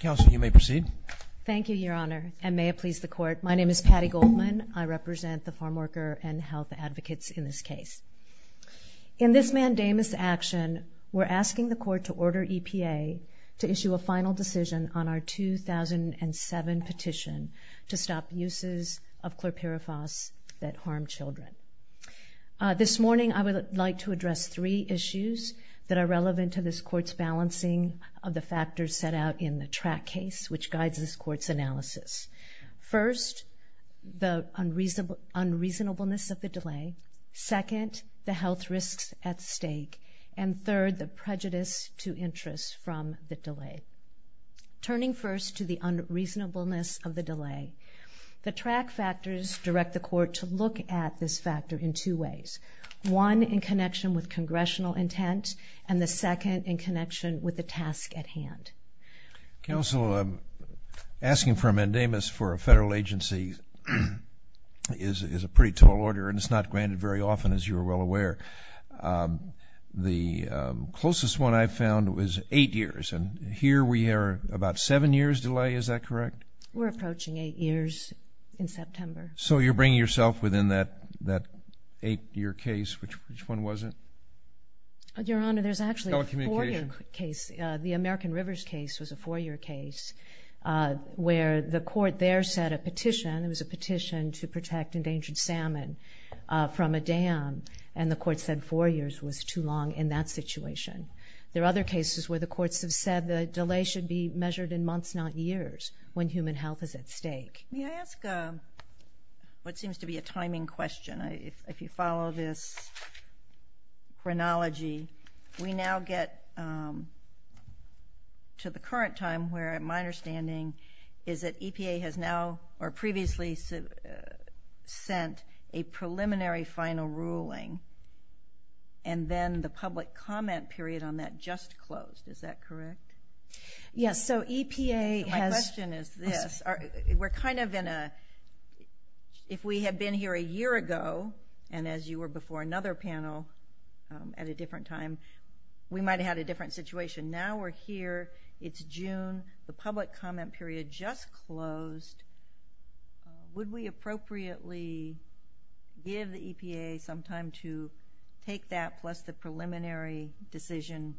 Council, you may proceed. Thank you, Your Honor, and may it please the Court. My name is Patty Goldman. I represent the farmworker and health advocates in this case. In this mandamus action, we're asking the Court to order EPA to issue a final decision on our 2007 petition to stop uses of chlorpyrifos that harm children. This morning, I would like to address three issues that are relevant to this Court's balancing of the factors set out in the track case, which guides this Court's analysis. First, the unreasonableness of the delay. Second, the health risks at stake. And third, the prejudice to interest from the delay. Turning first to the unreasonableness of the delay, the track factors direct the Court to look at this factor in two ways. One, in connection with congressional intent, and the second, in connection with the task at hand. Counsel, asking for a mandamus for a federal agency is a pretty tall order, and it's not granted very often, as you're well aware. The closest one I found was eight years, and here we are about seven years delay, is that correct? We're approaching eight years in September. So you're bringing yourself within that eight-year case, which one was it? Your Honor, there's actually a four-year case. Telecommunications. The American Rivers case was a four-year case, where the Court there set a petition. It was a petition to protect endangered salmon from a dam, and the Court said four years was too long in that situation. There are other cases where the Courts have said the delay should be measured in months, not years, when human health is at stake. May I ask what seems to be a timing question? If you follow this chronology, we now get to the current time, where my understanding is that EPA has now or previously sent a preliminary final ruling, and then the public comment period on that just closed. Is that correct? Yes. My question is this. If we had been here a year ago, and as you were before another panel at a different time, we might have had a different situation. Now we're here. It's June. The public comment period just closed. Would we appropriately give the EPA some time to take that plus the preliminary decision,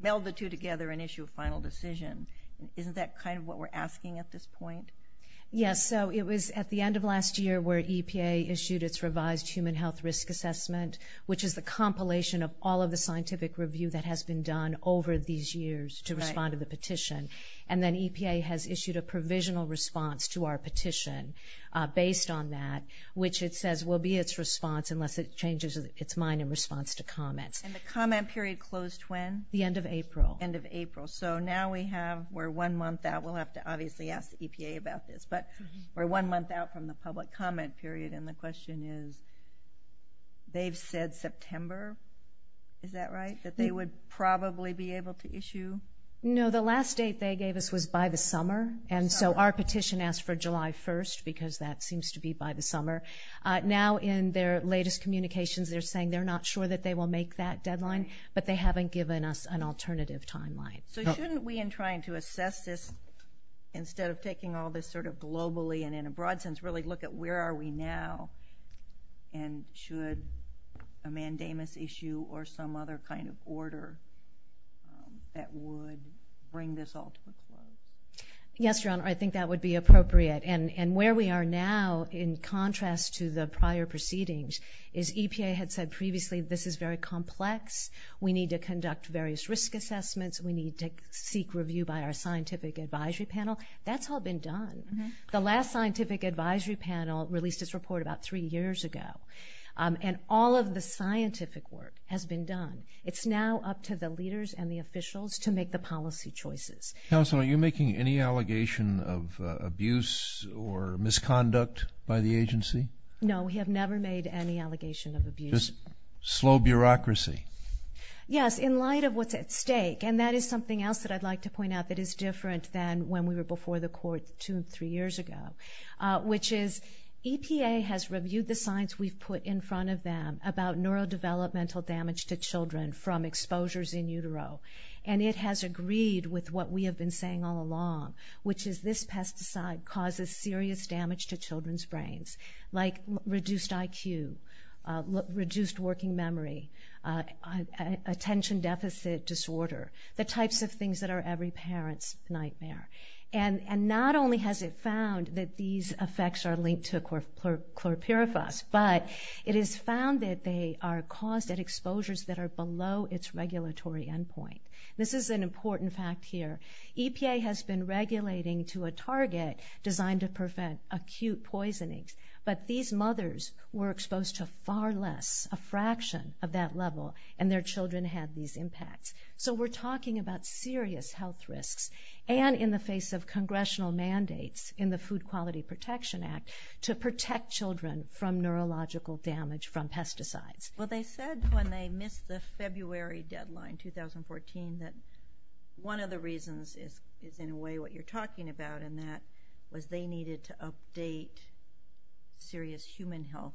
meld the two together, and issue a final decision? Isn't that kind of what we're asking at this point? Yes. So it was at the end of last year where EPA issued its revised human health risk assessment, which is the compilation of all of the scientific review that has been done over these years to respond to the petition. And then EPA has issued a provisional response to our petition based on that, which it says will be its response unless it changes its mind in response to comments. And the comment period closed when? The end of April. End of April. So now we're one month out. We'll have to obviously ask the EPA about this. But we're one month out from the public comment period, and the question is they've said September. Is that right? That they would probably be able to issue? No. The last date they gave us was by the summer, and so our petition asked for July 1st because that seems to be by the summer. Now in their latest communications they're saying they're not sure that they will make that deadline, but they haven't given us an alternative timeline. So shouldn't we, in trying to assess this instead of taking all this sort of globally and in a broad sense, really look at where are we now and should a mandamus issue or some other kind of order that would bring this all to a close? Yes, Your Honor. I think that would be appropriate. And where we are now in contrast to the prior proceedings is EPA had said previously this is very complex. We need to conduct various risk assessments. We need to seek review by our scientific advisory panel. That's all been done. The last scientific advisory panel released its report about three years ago, and all of the scientific work has been done. It's now up to the leaders and the officials to make the policy choices. Counsel, are you making any allegation of abuse or misconduct by the agency? No, we have never made any allegation of abuse. Just slow bureaucracy? Yes, in light of what's at stake. And that is something else that I'd like to point out that is different than when we were before the court two or three years ago, which is EPA has reviewed the science we've put in front of them about neurodevelopmental damage to children from exposures in utero, and it has agreed with what we have been saying all along, which is this pesticide causes serious damage to children's brains, like reduced IQ, reduced working memory, attention deficit disorder, the types of things that are every parent's nightmare. And not only has it found that these effects are linked to chlorpyrifos, but it has found that they are caused at exposures that are below its regulatory endpoint. This is an important fact here. EPA has been regulating to a target designed to prevent acute poisoning, but these mothers were exposed to far less, a fraction of that level, and their children had these impacts. So we're talking about serious health risks, and in the face of congressional mandates in the Food Quality Protection Act, to protect children from neurological damage from pesticides. Well, they said when they missed the February deadline, 2014, that one of the reasons is in a way what you're talking about, and that was they needed to update serious human health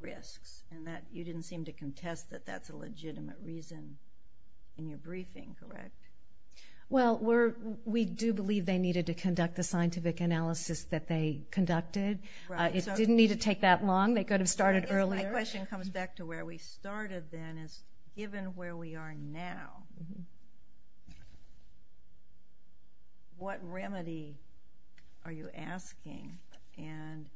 risks, and you didn't seem to contest that that's a legitimate reason in your briefing, correct? Well, we do believe they needed to conduct the scientific analysis that they conducted. It didn't need to take that long. They could have started earlier. My question comes back to where we started then, is given where we are now, what remedy are you asking? And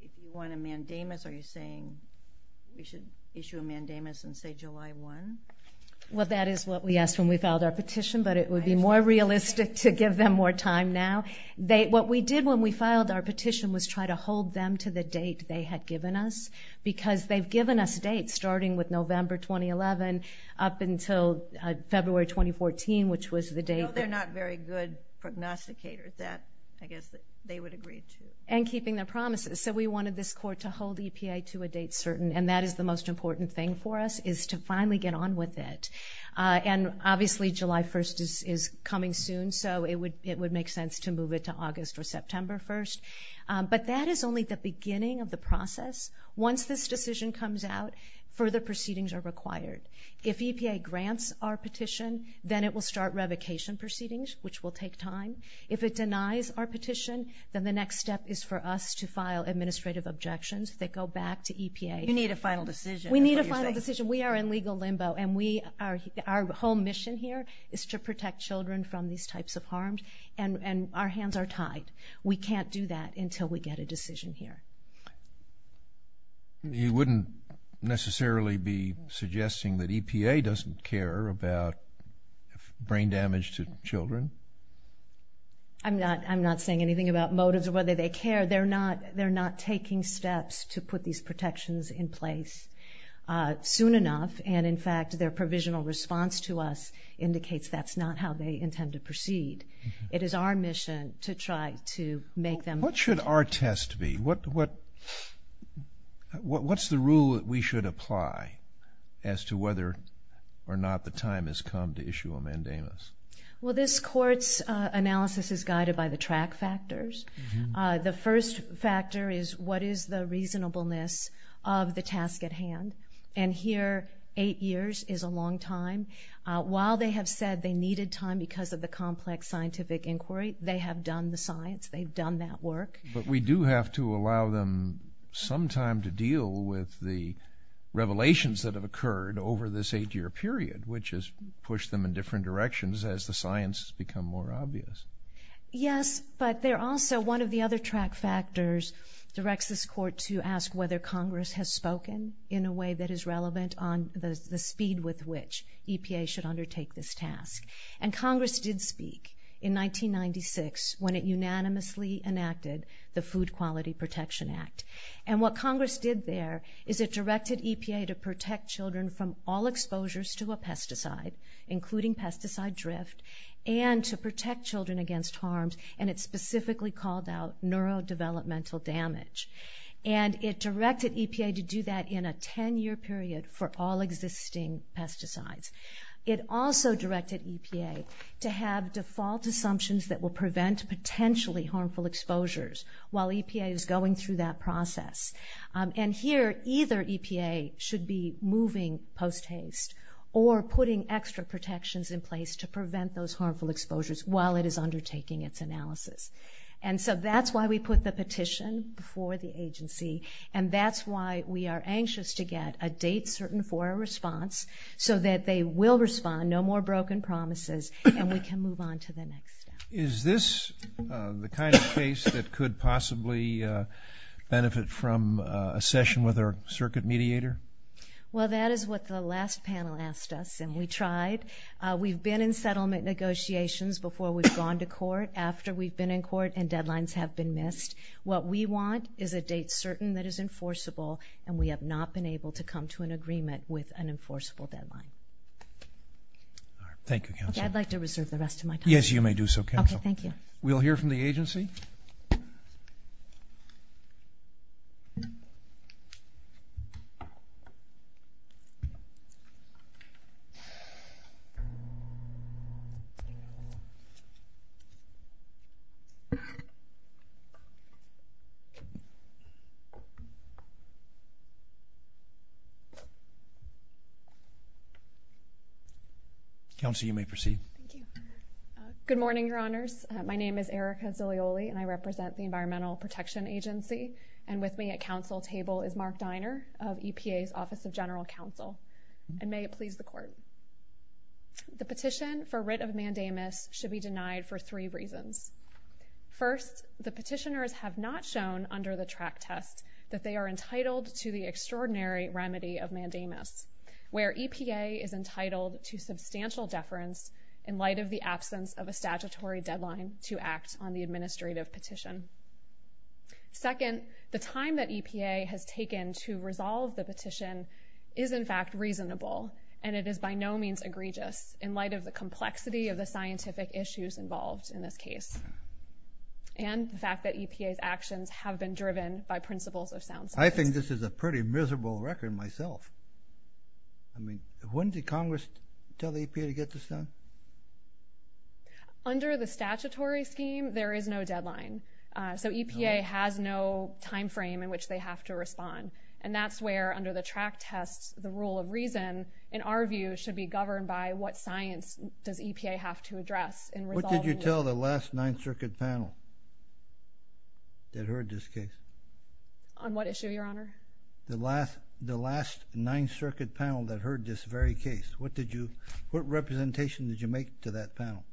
if you want a mandamus, are you saying we should issue a mandamus in, say, July 1? Well, that is what we asked when we filed our petition, but it would be more realistic to give them more time now. What we did when we filed our petition was try to hold them to the date they had given us, because they've given us dates starting with November 2011 up until February 2014, which was the date that they agreed to. I know they're not very good prognosticators. I guess they would agree to it. And keeping their promises. So we wanted this court to hold EPA to a date certain, and that is the most important thing for us is to finally get on with it. And obviously July 1 is coming soon, so it would make sense to move it to August or September 1. But that is only the beginning of the process. Once this decision comes out, further proceedings are required. If EPA grants our petition, then it will start revocation proceedings, which will take time. If it denies our petition, then the next step is for us to file administrative objections that go back to EPA. You need a final decision. We need a final decision. We are in legal limbo, and our whole mission here is to protect children from these types of harms, and our hands are tied. We can't do that until we get a decision here. You wouldn't necessarily be suggesting that EPA doesn't care about brain damage to children? I'm not saying anything about motives or whether they care. They're not taking steps to put these protections in place. Soon enough, and in fact their provisional response to us indicates that's not how they intend to proceed. It is our mission to try to make them. What should our test be? What's the rule that we should apply as to whether or not the time has come to issue a mandamus? Well, this court's analysis is guided by the track factors. The first factor is what is the reasonableness of the task at hand? And here, eight years is a long time. While they have said they needed time because of the complex scientific inquiry, they have done the science. They've done that work. But we do have to allow them some time to deal with the revelations that have occurred over this eight-year period, which has pushed them in different directions as the science has become more obvious. Yes, but they're also one of the other track factors directs this court to ask whether Congress has spoken in a way that is relevant on the speed with which EPA should undertake this task. And Congress did speak in 1996 when it unanimously enacted the Food Quality Protection Act. And what Congress did there is it directed EPA to protect children from all exposures to a pesticide, including pesticide drift, and to protect children against harms, and it specifically called out neurodevelopmental damage. And it directed EPA to do that in a 10-year period for all existing pesticides. It also directed EPA to have default assumptions that will prevent potentially harmful exposures while EPA is going through that process. And here, either EPA should be moving post-haste or putting extra protections in place to prevent those harmful exposures while it is undertaking its analysis. And so that's why we put the petition before the agency, and that's why we are anxious to get a date certain for a response so that they will respond, no more broken promises, and we can move on to the next step. Is this the kind of case that could possibly benefit from a session with our circuit mediator? Well, that is what the last panel asked us, and we tried. We've been in settlement negotiations before we've gone to court, after we've been in court, and deadlines have been missed. What we want is a date certain that is enforceable, and we have not been able to come to an agreement with an enforceable deadline. Thank you, Counsel. Okay, I'd like to reserve the rest of my time. Yes, you may do so, Counsel. Okay, thank you. We'll hear from the agency. Counsel, you may proceed. Thank you. Good morning, Your Honors. My name is Erica Zolioli, and I represent the Environmental Protection Agency, and with me at counsel table is Mark Diner of EPA's Office of General Counsel. And may it please the Court, the petition for writ of mandamus should be denied for three reasons. First, the petitioners have not shown under the track test that they are entitled to the extraordinary remedy of mandamus, where EPA is entitled to substantial deference in light of the absence of a statutory deadline to act on the administrative petition. Second, the time that EPA has taken to resolve the petition is, in fact, reasonable, and it is by no means egregious in light of the complexity of the scientific issues involved in this case and the fact that EPA's actions have been driven by principles of sound science. I think this is a pretty miserable record myself. I mean, when did Congress tell the EPA to get this done? Under the statutory scheme, there is no deadline. So EPA has no time frame in which they have to respond. And that's where, under the track test, the rule of reason, in our view, should be governed by what science does EPA have to address in resolving this. What did you tell the last Ninth Circuit panel that heard this case? On what issue, Your Honor? The last Ninth Circuit panel that heard this very case. What representation did you make to that panel?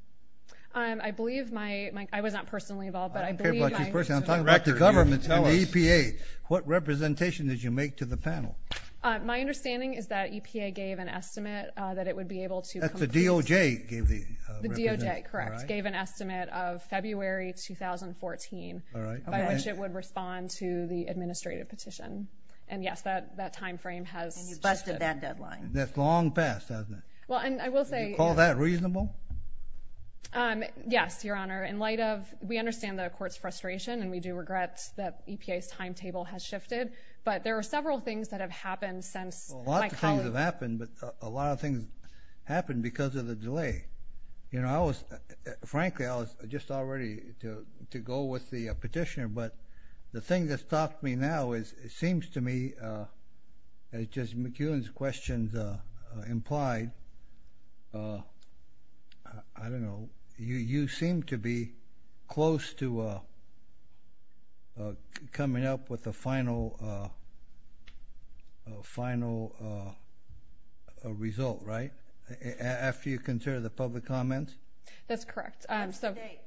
I believe myóI was not personally involved, but I believe myó I don't care about your personalóI'm talking about the government and the EPA. What representation did you make to the panel? My understanding is that EPA gave an estimate that it would be able to completeó That's the DOJ gave theó The DOJ, correct, gave an estimate of February 2014ó All right. By which it would respond to the administrative petition. And, yes, that time frame hasó And you busted that deadline. That's long past, hasn't it? Well, and I will sayó Do you call that reasonable? Yes, Your Honor. In light ofówe understand the Court's frustration, and we do regret that EPA's timetable has shifted, but there are several things that have happened since my colleagueó Well, a lot of things have happened, but a lot of things happened because of the delay. You know, I wasófrankly, I was just all ready to go with the petitioner, but the thing that stopped me now is it seems to me, as just McEwen's questions implied, I don't know, you seem to be close to coming up with a final result, right, after you consider the public comment? On what date?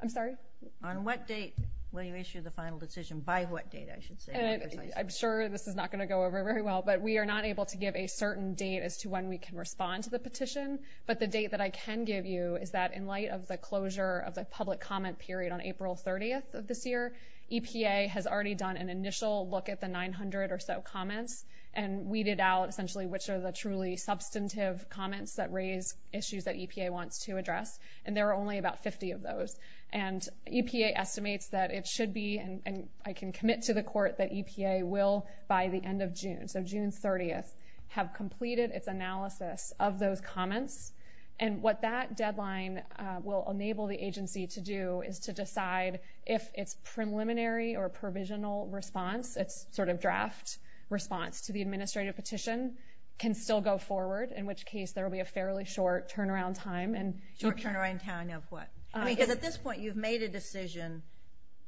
I'm sorry? I can't give you the final decision by what date, I should say. I'm sure this is not going to go over very well, but we are not able to give a certain date as to when we can respond to the petition, but the date that I can give you is that in light of the closure of the public comment period on April 30th of this year, EPA has already done an initial look at the 900 or so comments and weeded out essentially which are the truly substantive comments that raise issues that EPA wants to address, and there are only about 50 of those. And EPA estimates that it should be, and I can commit to the court, that EPA will by the end of June, so June 30th, have completed its analysis of those comments, and what that deadline will enable the agency to do is to decide if its preliminary or provisional response, its sort of draft response to the administrative petition can still go forward, in which case there will be a fairly short turnaround time. Short turnaround time of what? Because at this point you've made a decision.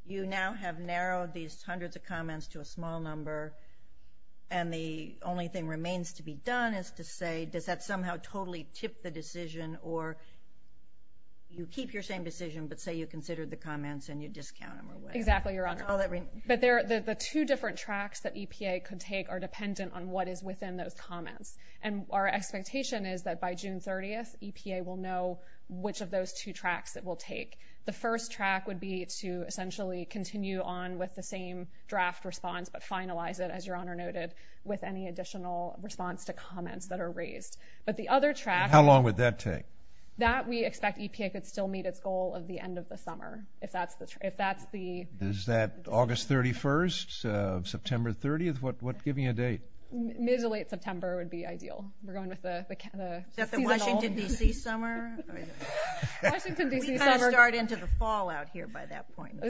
You now have narrowed these hundreds of comments to a small number, and the only thing remains to be done is to say, does that somehow totally tip the decision, or you keep your same decision but say you considered the comments and you discount them away. Exactly, Your Honor. But the two different tracks that EPA can take are dependent on what is within those comments, and our expectation is that by June 30th, the first track would be to essentially continue on with the same draft response but finalize it, as Your Honor noted, with any additional response to comments that are raised. And how long would that take? That we expect EPA could still meet its goal of the end of the summer. Is that August 31st, September 30th? Give me a date. Mid to late September would be ideal. Is that the Washington, D.C. summer? Washington, D.C. summer. We kind of start into the fall out here by that point.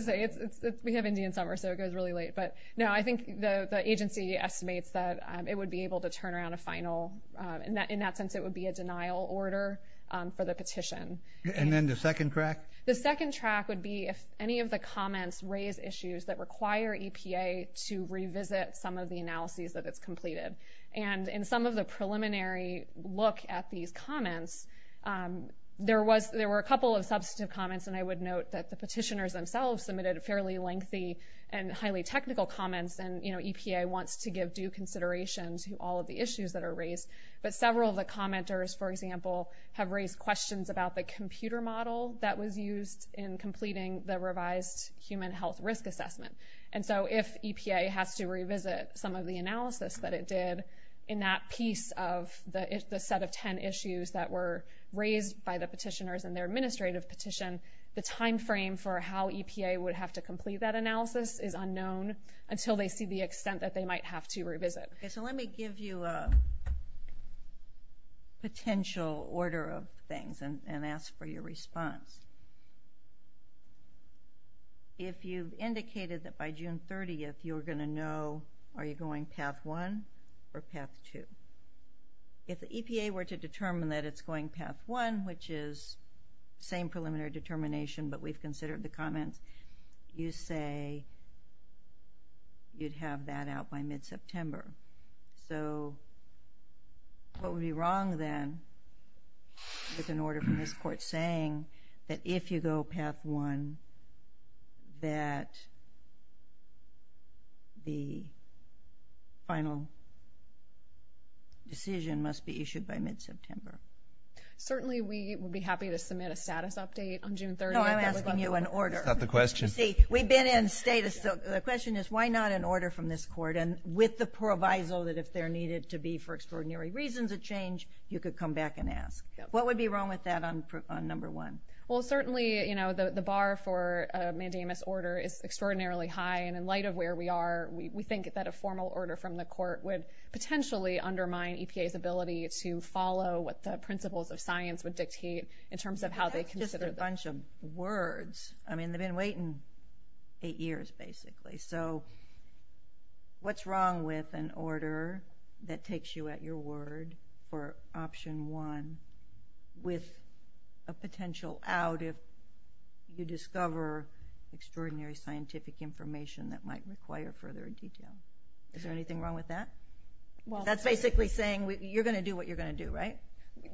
We have Indian summer, so it goes really late. But no, I think the agency estimates that it would be able to turn around a final. In that sense, it would be a denial order for the petition. And then the second track? The second track would be if any of the comments raise issues that require EPA to revisit some of the analyses that it's completed. And in some of the preliminary look at these comments, there were a couple of substantive comments, and I would note that the petitioners themselves submitted fairly lengthy and highly technical comments, and EPA wants to give due consideration to all of the issues that are raised. But several of the commenters, for example, have raised questions about the computer model that was used in completing the revised human health risk assessment. And so if EPA has to revisit some of the analysis that it did in that piece of the set of ten issues that were raised by the petitioners in their administrative petition, the time frame for how EPA would have to complete that analysis is unknown until they see the extent that they might have to revisit. Okay, so let me give you a potential order of things and ask for your response. If you've indicated that by June 30th you're going to know, are you going path one or path two? If the EPA were to determine that it's going path one, which is same preliminary determination but we've considered the comments, you say you'd have that out by mid-September. So what would be wrong then with an order from this court saying that if you go path one, that the final decision must be issued by mid-September? Certainly we would be happy to submit a status update on June 30th. No, I'm asking you an order. That's not the question. See, we've been in status. The question is why not an order from this court and with the proviso that if there needed to be for extraordinary reasons of change, you could come back and ask. What would be wrong with that on number one? Well, certainly the bar for a mandamus order is extraordinarily high, and in light of where we are, we think that a formal order from the court would potentially undermine EPA's ability to follow what the principles of science would dictate in terms of how they consider them. That's just a bunch of words. I mean, they've been waiting eight years, basically. So what's wrong with an order that takes you at your word for option one with a potential out if you discover extraordinary scientific information that might require further detail? Is there anything wrong with that? That's basically saying you're going to do what you're going to do, right?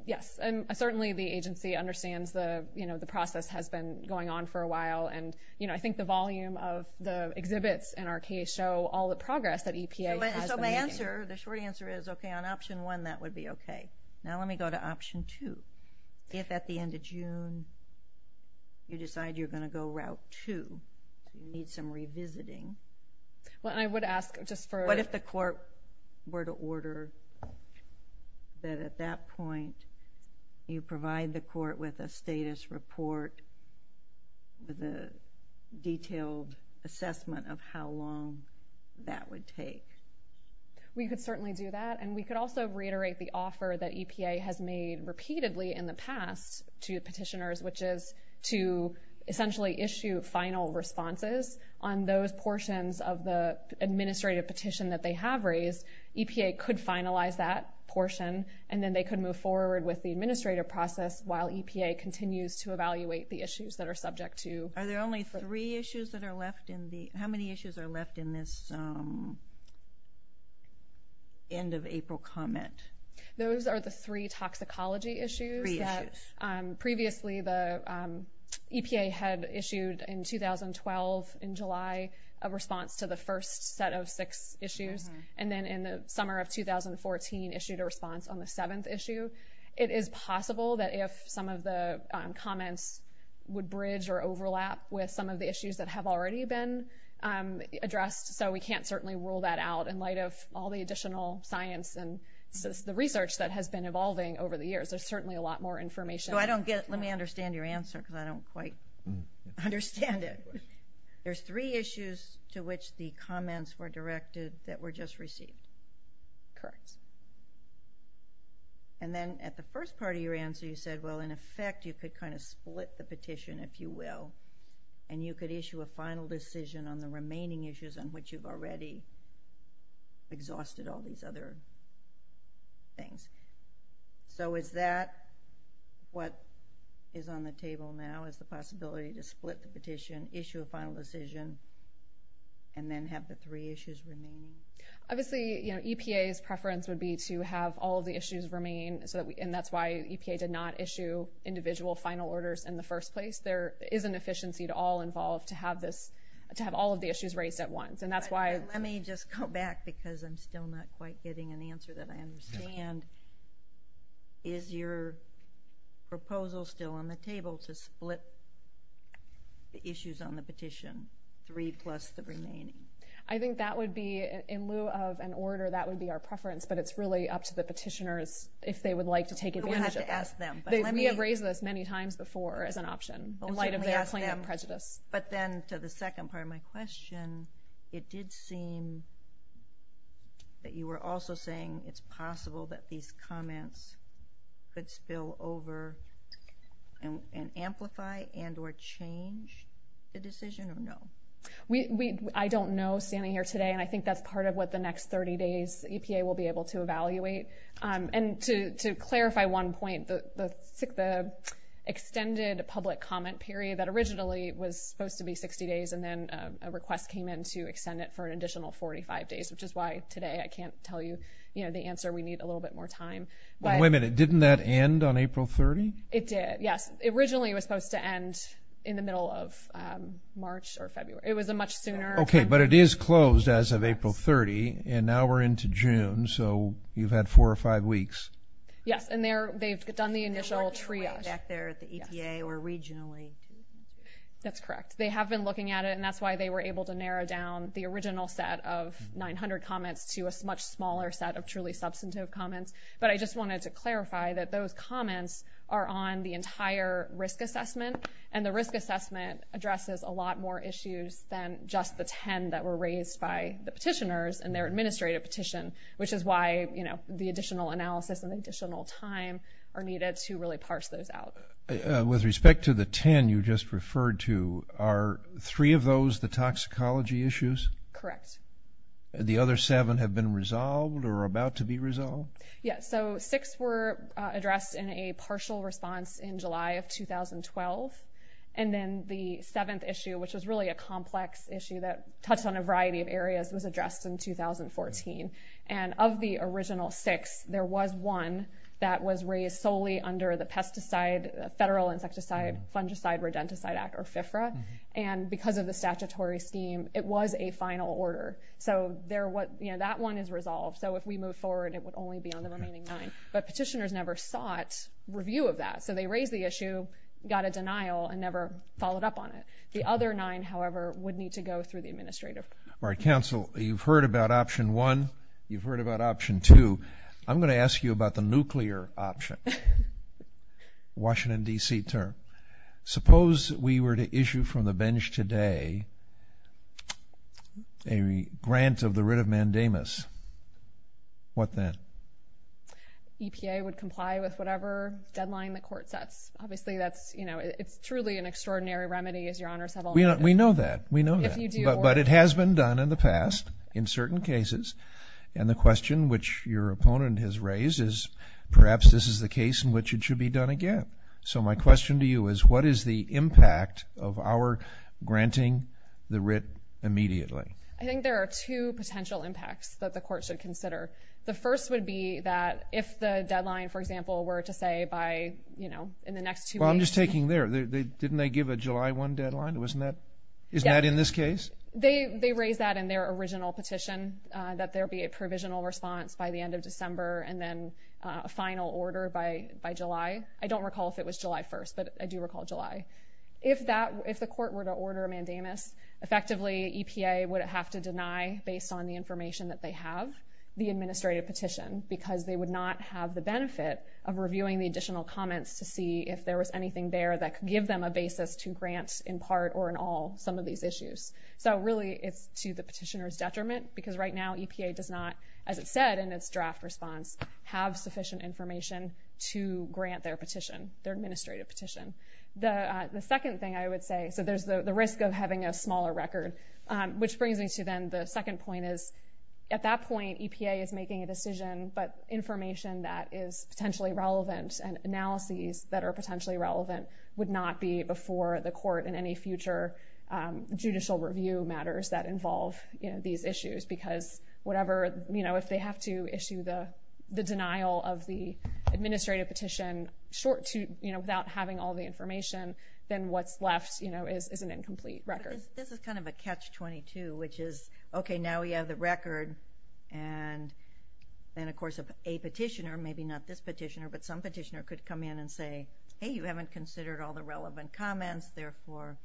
Yes, and certainly the agency understands the process has been going on for a while, and I think the volume of the exhibits in our case show all the progress that EPA has been making. So my answer, the short answer is, okay, on option one that would be okay. Now let me go to option two. If at the end of June you decide you're going to go route two, you need some revisiting, what if the court were to order that at that point you provide the court with a status report with a detailed assessment of how long that would take? We could certainly do that, and we could also reiterate the offer that EPA has made repeatedly in the past to petitioners, which is to essentially issue final responses on those portions of the administrative petition that they have raised. EPA could finalize that portion, and then they could move forward with the administrative process while EPA continues to evaluate the issues that are subject to. Are there only three issues that are left? How many issues are left in this end of April comment? Those are the three toxicology issues. Three issues. Previously the EPA had issued in 2012 in July a response to the first set of six issues, and then in the summer of 2014 issued a response on the seventh issue. It is possible that if some of the comments would bridge or overlap with some of the issues that have already been addressed, so we can't certainly rule that out in light of all the additional science and the research that has been evolving over the years. There's certainly a lot more information. Let me understand your answer because I don't quite understand it. There's three issues to which the comments were directed that were just received. Correct. And then at the first part of your answer you said, well, in effect you could kind of split the petition, if you will, and you could issue a final decision on the remaining issues on which you've already exhausted all these other things. So is that what is on the table now is the possibility to split the petition, issue a final decision, and then have the three issues remain? Obviously EPA's preference would be to have all of the issues remain, and that's why EPA did not issue individual final orders in the first place. There is an efficiency to all involved to have all of the issues raised at once. Let me just go back because I'm still not quite getting an answer that I understand. Is your proposal still on the table to split the issues on the petition, three plus the remaining? I think that would be, in lieu of an order, that would be our preference, but it's really up to the petitioners if they would like to take advantage of that. We have raised this many times before as an option in light of their claim of prejudice. But then to the second part of my question, it did seem that you were also saying it's possible that these comments could spill over and amplify and or change the decision, or no? I don't know standing here today, and I think that's part of what the next 30 days EPA will be able to evaluate. To clarify one point, the extended public comment period that originally was supposed to be 60 days and then a request came in to extend it for an additional 45 days, which is why today I can't tell you the answer. We need a little bit more time. Wait a minute, didn't that end on April 30? It did, yes. Originally it was supposed to end in the middle of March or February. It was a much sooner time. Okay, but it is closed as of April 30, and now we're into June. So you've had four or five weeks. Yes, and they've done the initial triage. They're working their way back there at the EPA or regionally. That's correct. They have been looking at it, and that's why they were able to narrow down the original set of 900 comments to a much smaller set of truly substantive comments. But I just wanted to clarify that those comments are on the entire risk assessment, and the risk assessment addresses a lot more issues than just the 10 that were raised by the petitioners in their administrative petition, which is why the additional analysis and additional time are needed to really parse those out. With respect to the 10 you just referred to, are three of those the toxicology issues? Correct. The other seven have been resolved or are about to be resolved? Yes, so six were addressed in a partial response in July of 2012, and then the seventh issue, which was really a complex issue that touched on a variety of areas, was addressed in 2014. And of the original six, there was one that was raised solely under the Pesticide, Federal Insecticide, Fungicide, Redenticide Act, or FIFRA, and because of the statutory scheme, it was a final order. So that one is resolved. So if we move forward, it would only be on the remaining nine. But petitioners never sought review of that, so they raised the issue, got a denial, and never followed up on it. The other nine, however, would need to go through the administrative. All right, counsel, you've heard about option one, you've heard about option two. I'm going to ask you about the nuclear option, Washington, D.C. term. Suppose we were to issue from the bench today a grant of the writ of mandamus. What then? EPA would comply with whatever deadline the court sets. Obviously, that's truly an extraordinary remedy, as Your Honors have all noted. We know that. But it has been done in the past in certain cases, and the question which your opponent has raised is perhaps this is the case in which it should be done again. So my question to you is what is the impact of our granting the writ immediately? I think there are two potential impacts that the court should consider. The first would be that if the deadline, for example, were to say by, you know, in the next two weeks. Well, I'm just taking there. Didn't they give a July 1 deadline? Isn't that in this case? They raised that in their original petition, that there be a provisional response by the end of December and then a final order by July. I don't recall if it was July 1, but I do recall July. If the court were to order a mandamus, effectively EPA would have to deny, based on the information that they have, the administrative petition because they would not have the benefit of reviewing the additional comments to see if there was anything there that could give them a basis to grant in part or in all some of these issues. So really it's to the petitioner's detriment because right now EPA does not, as it said in its draft response, have sufficient information to grant their petition, their administrative petition. The second thing I would say, so there's the risk of having a smaller record, which brings me to then the second point is at that point EPA is making a decision, but information that is potentially relevant and analyses that are potentially relevant would not be before the court in any future judicial review matters that involve these issues because if they have to issue the denial of the administrative petition without having all the information, then what's left is an incomplete record. This is kind of a catch-22, which is, okay, now we have the record and then of course a petitioner, maybe not this petitioner, but some petitioner could come in and say, hey, you haven't considered all the relevant comments, therefore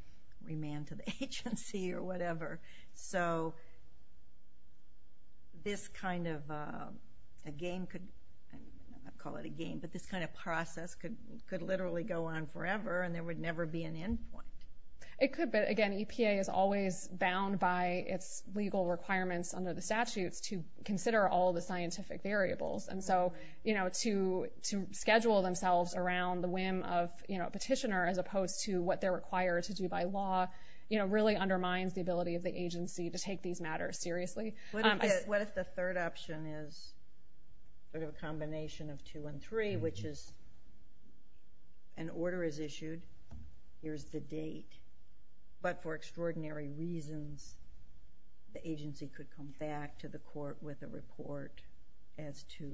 remand to the agency or whatever. So this kind of a game could, I don't want to call it a game, but this kind of process could literally go on forever and there would never be an end point. It could, but again, EPA is always bound by its legal requirements under the statutes to consider all the scientific variables, and so to schedule themselves around the whim of a petitioner as opposed to what they're required to do by law really undermines the ability of the agency to take these matters seriously. What if the third option is a combination of two and three, which is an order is issued, here's the date, but for extraordinary reasons the agency could come back to the court with a report as to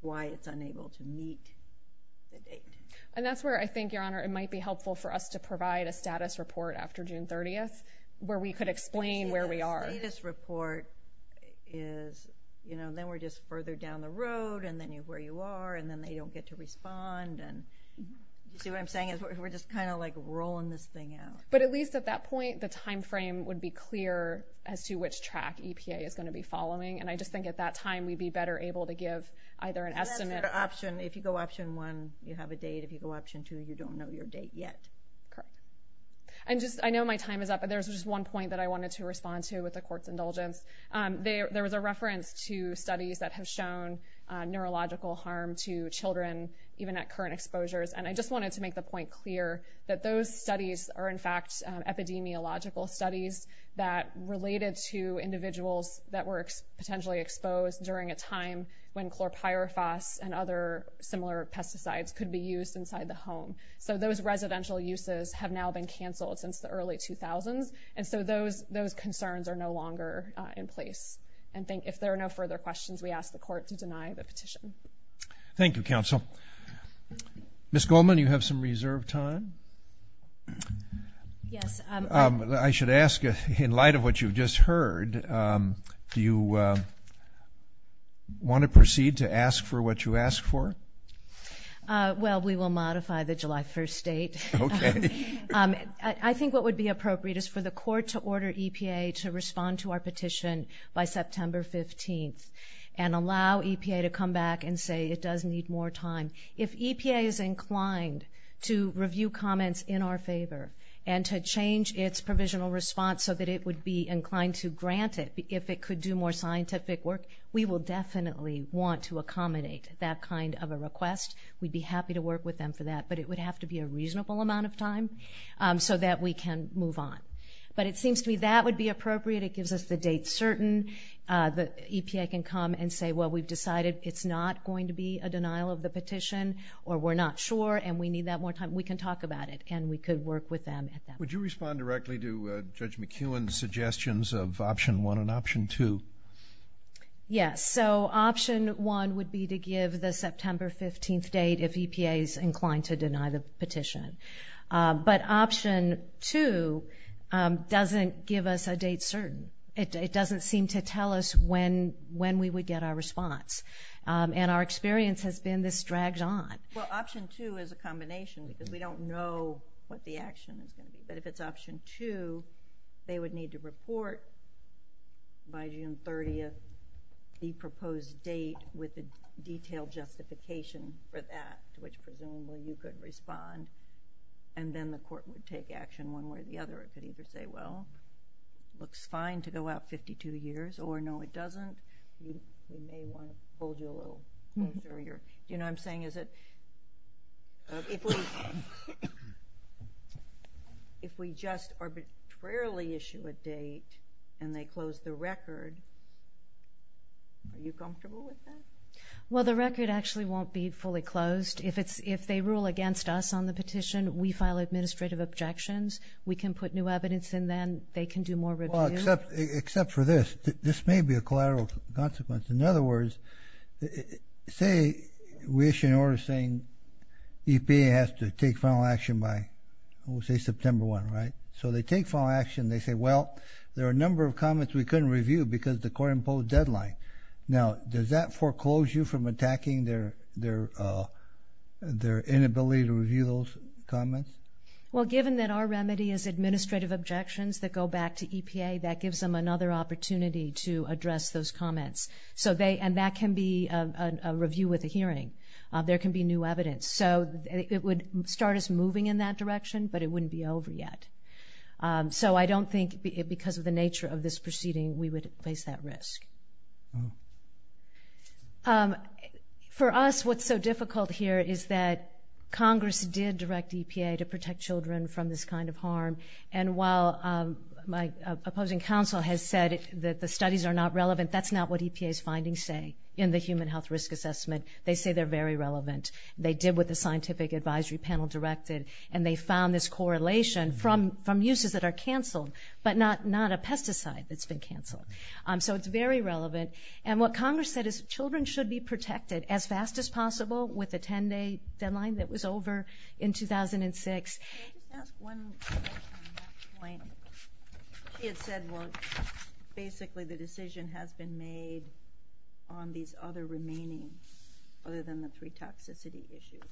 why it's unable to meet the date. And that's where I think, Your Honor, it might be helpful for us to provide a status report after June 30th where we could explain where we are. The status report is, you know, then we're just further down the road and then you're where you are and then they don't get to respond. You see what I'm saying? We're just kind of like rolling this thing out. But at least at that point the time frame would be clear as to which track EPA is going to be following, and I just think at that time we'd be better able to give either an estimate. If you go option one, you have a date. If you go option two, you don't know your date yet. I know my time is up, but there's just one point that I wanted to respond to with the court's indulgence. There was a reference to studies that have shown neurological harm to children even at current exposures, and I just wanted to make the point clear that those studies are in fact epidemiological studies that related to individuals that were potentially exposed during a time when chlorpyrifos and other similar pesticides could be used inside the home. So those residential uses have now been canceled since the early 2000s, and so those concerns are no longer in place. If there are no further questions, we ask the court to deny the petition. Thank you, counsel. Ms. Goldman, you have some reserved time. Yes. I should ask, in light of what you've just heard, do you want to proceed to ask for what you asked for? Well, we will modify the July 1st date. Okay. I think what would be appropriate is for the court to order EPA to respond to our petition by September 15th and allow EPA to come back and say it does need more time. If EPA is inclined to review comments in our favor and to change its provisional response so that it would be inclined to grant it if it could do more scientific work, we will definitely want to accommodate that kind of a request. We'd be happy to work with them for that, but it would have to be a reasonable amount of time so that we can move on. But it seems to me that would be appropriate. It gives us the date certain that EPA can come and say, well, we've decided it's not going to be a denial of the petition or we're not sure and we need that more time. We can talk about it and we could work with them at that point. Would you respond directly to Judge McEwen's suggestions of Option 1 and Option 2? Yes. So Option 1 would be to give the September 15th date if EPA is inclined to deny the petition. But Option 2 doesn't give us a date certain. It doesn't seem to tell us when we would get our response, and our experience has been this dragged on. Well, Option 2 is a combination because we don't know what the action is going to be. But if it's Option 2, they would need to report by June 30th the proposed date with the detailed justification for that, to which presumably you could respond, and then the court would take action one way or the other. It could either say, well, it looks fine to go out 52 years, or no, it doesn't. We may want to hold you a little longer. Do you know what I'm saying? Is it if we just arbitrarily issue a date and they close the record, are you comfortable with that? Well, the record actually won't be fully closed. If they rule against us on the petition, we file administrative objections. We can put new evidence in then. They can do more review. Except for this. This may be a collateral consequence. In other words, say we issue an order saying EPA has to take final action by, we'll say September 1, right? So they take final action. They say, well, there are a number of comments we couldn't review because the court imposed deadline. Now, does that foreclose you from attacking their inability to review those comments? Well, given that our remedy is administrative objections that go back to EPA, that gives them another opportunity to address those comments. And that can be a review with a hearing. There can be new evidence. So it would start us moving in that direction, but it wouldn't be over yet. So I don't think because of the nature of this proceeding we would face that risk. For us, what's so difficult here is that Congress did direct EPA to protect children from this kind of harm. And while my opposing counsel has said that the studies are not relevant, that's not what EPA's findings say in the Human Health Risk Assessment. They say they're very relevant. They did what the scientific advisory panel directed, and they found this correlation from uses that are canceled, but not a pesticide that's been canceled. So it's very relevant. And what Congress said is children should be protected as fast as possible with a 10-day deadline that was over in 2006. Can I just ask one question on that point? You had said, well, basically the decision has been made on these other remainings other than the three toxicity issues.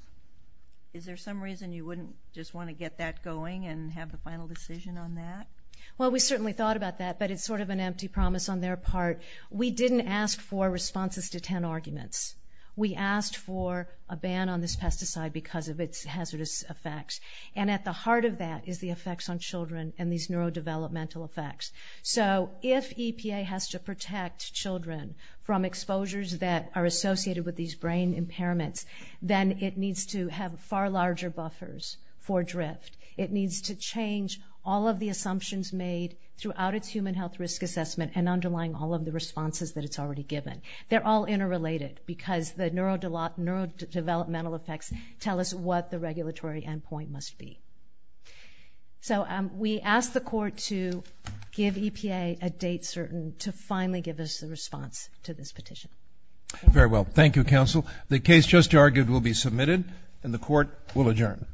Is there some reason you wouldn't just want to get that going and have the final decision on that? Well, we certainly thought about that, but it's sort of an empty promise on their part. We didn't ask for responses to 10 arguments. We asked for a ban on this pesticide because of its hazardous effects. And at the heart of that is the effects on children and these neurodevelopmental effects. So if EPA has to protect children from exposures that are associated with these brain impairments, then it needs to have far larger buffers for drift. It needs to change all of the assumptions made throughout its Human Health Risk Assessment and underlying all of the responses that it's already given. They're all interrelated because the neurodevelopmental effects tell us what the regulatory endpoint must be. So we asked the court to give EPA a date certain to finally give us a response to this petition. Very well. Thank you, counsel. The case just argued will be submitted, and the court will adjourn.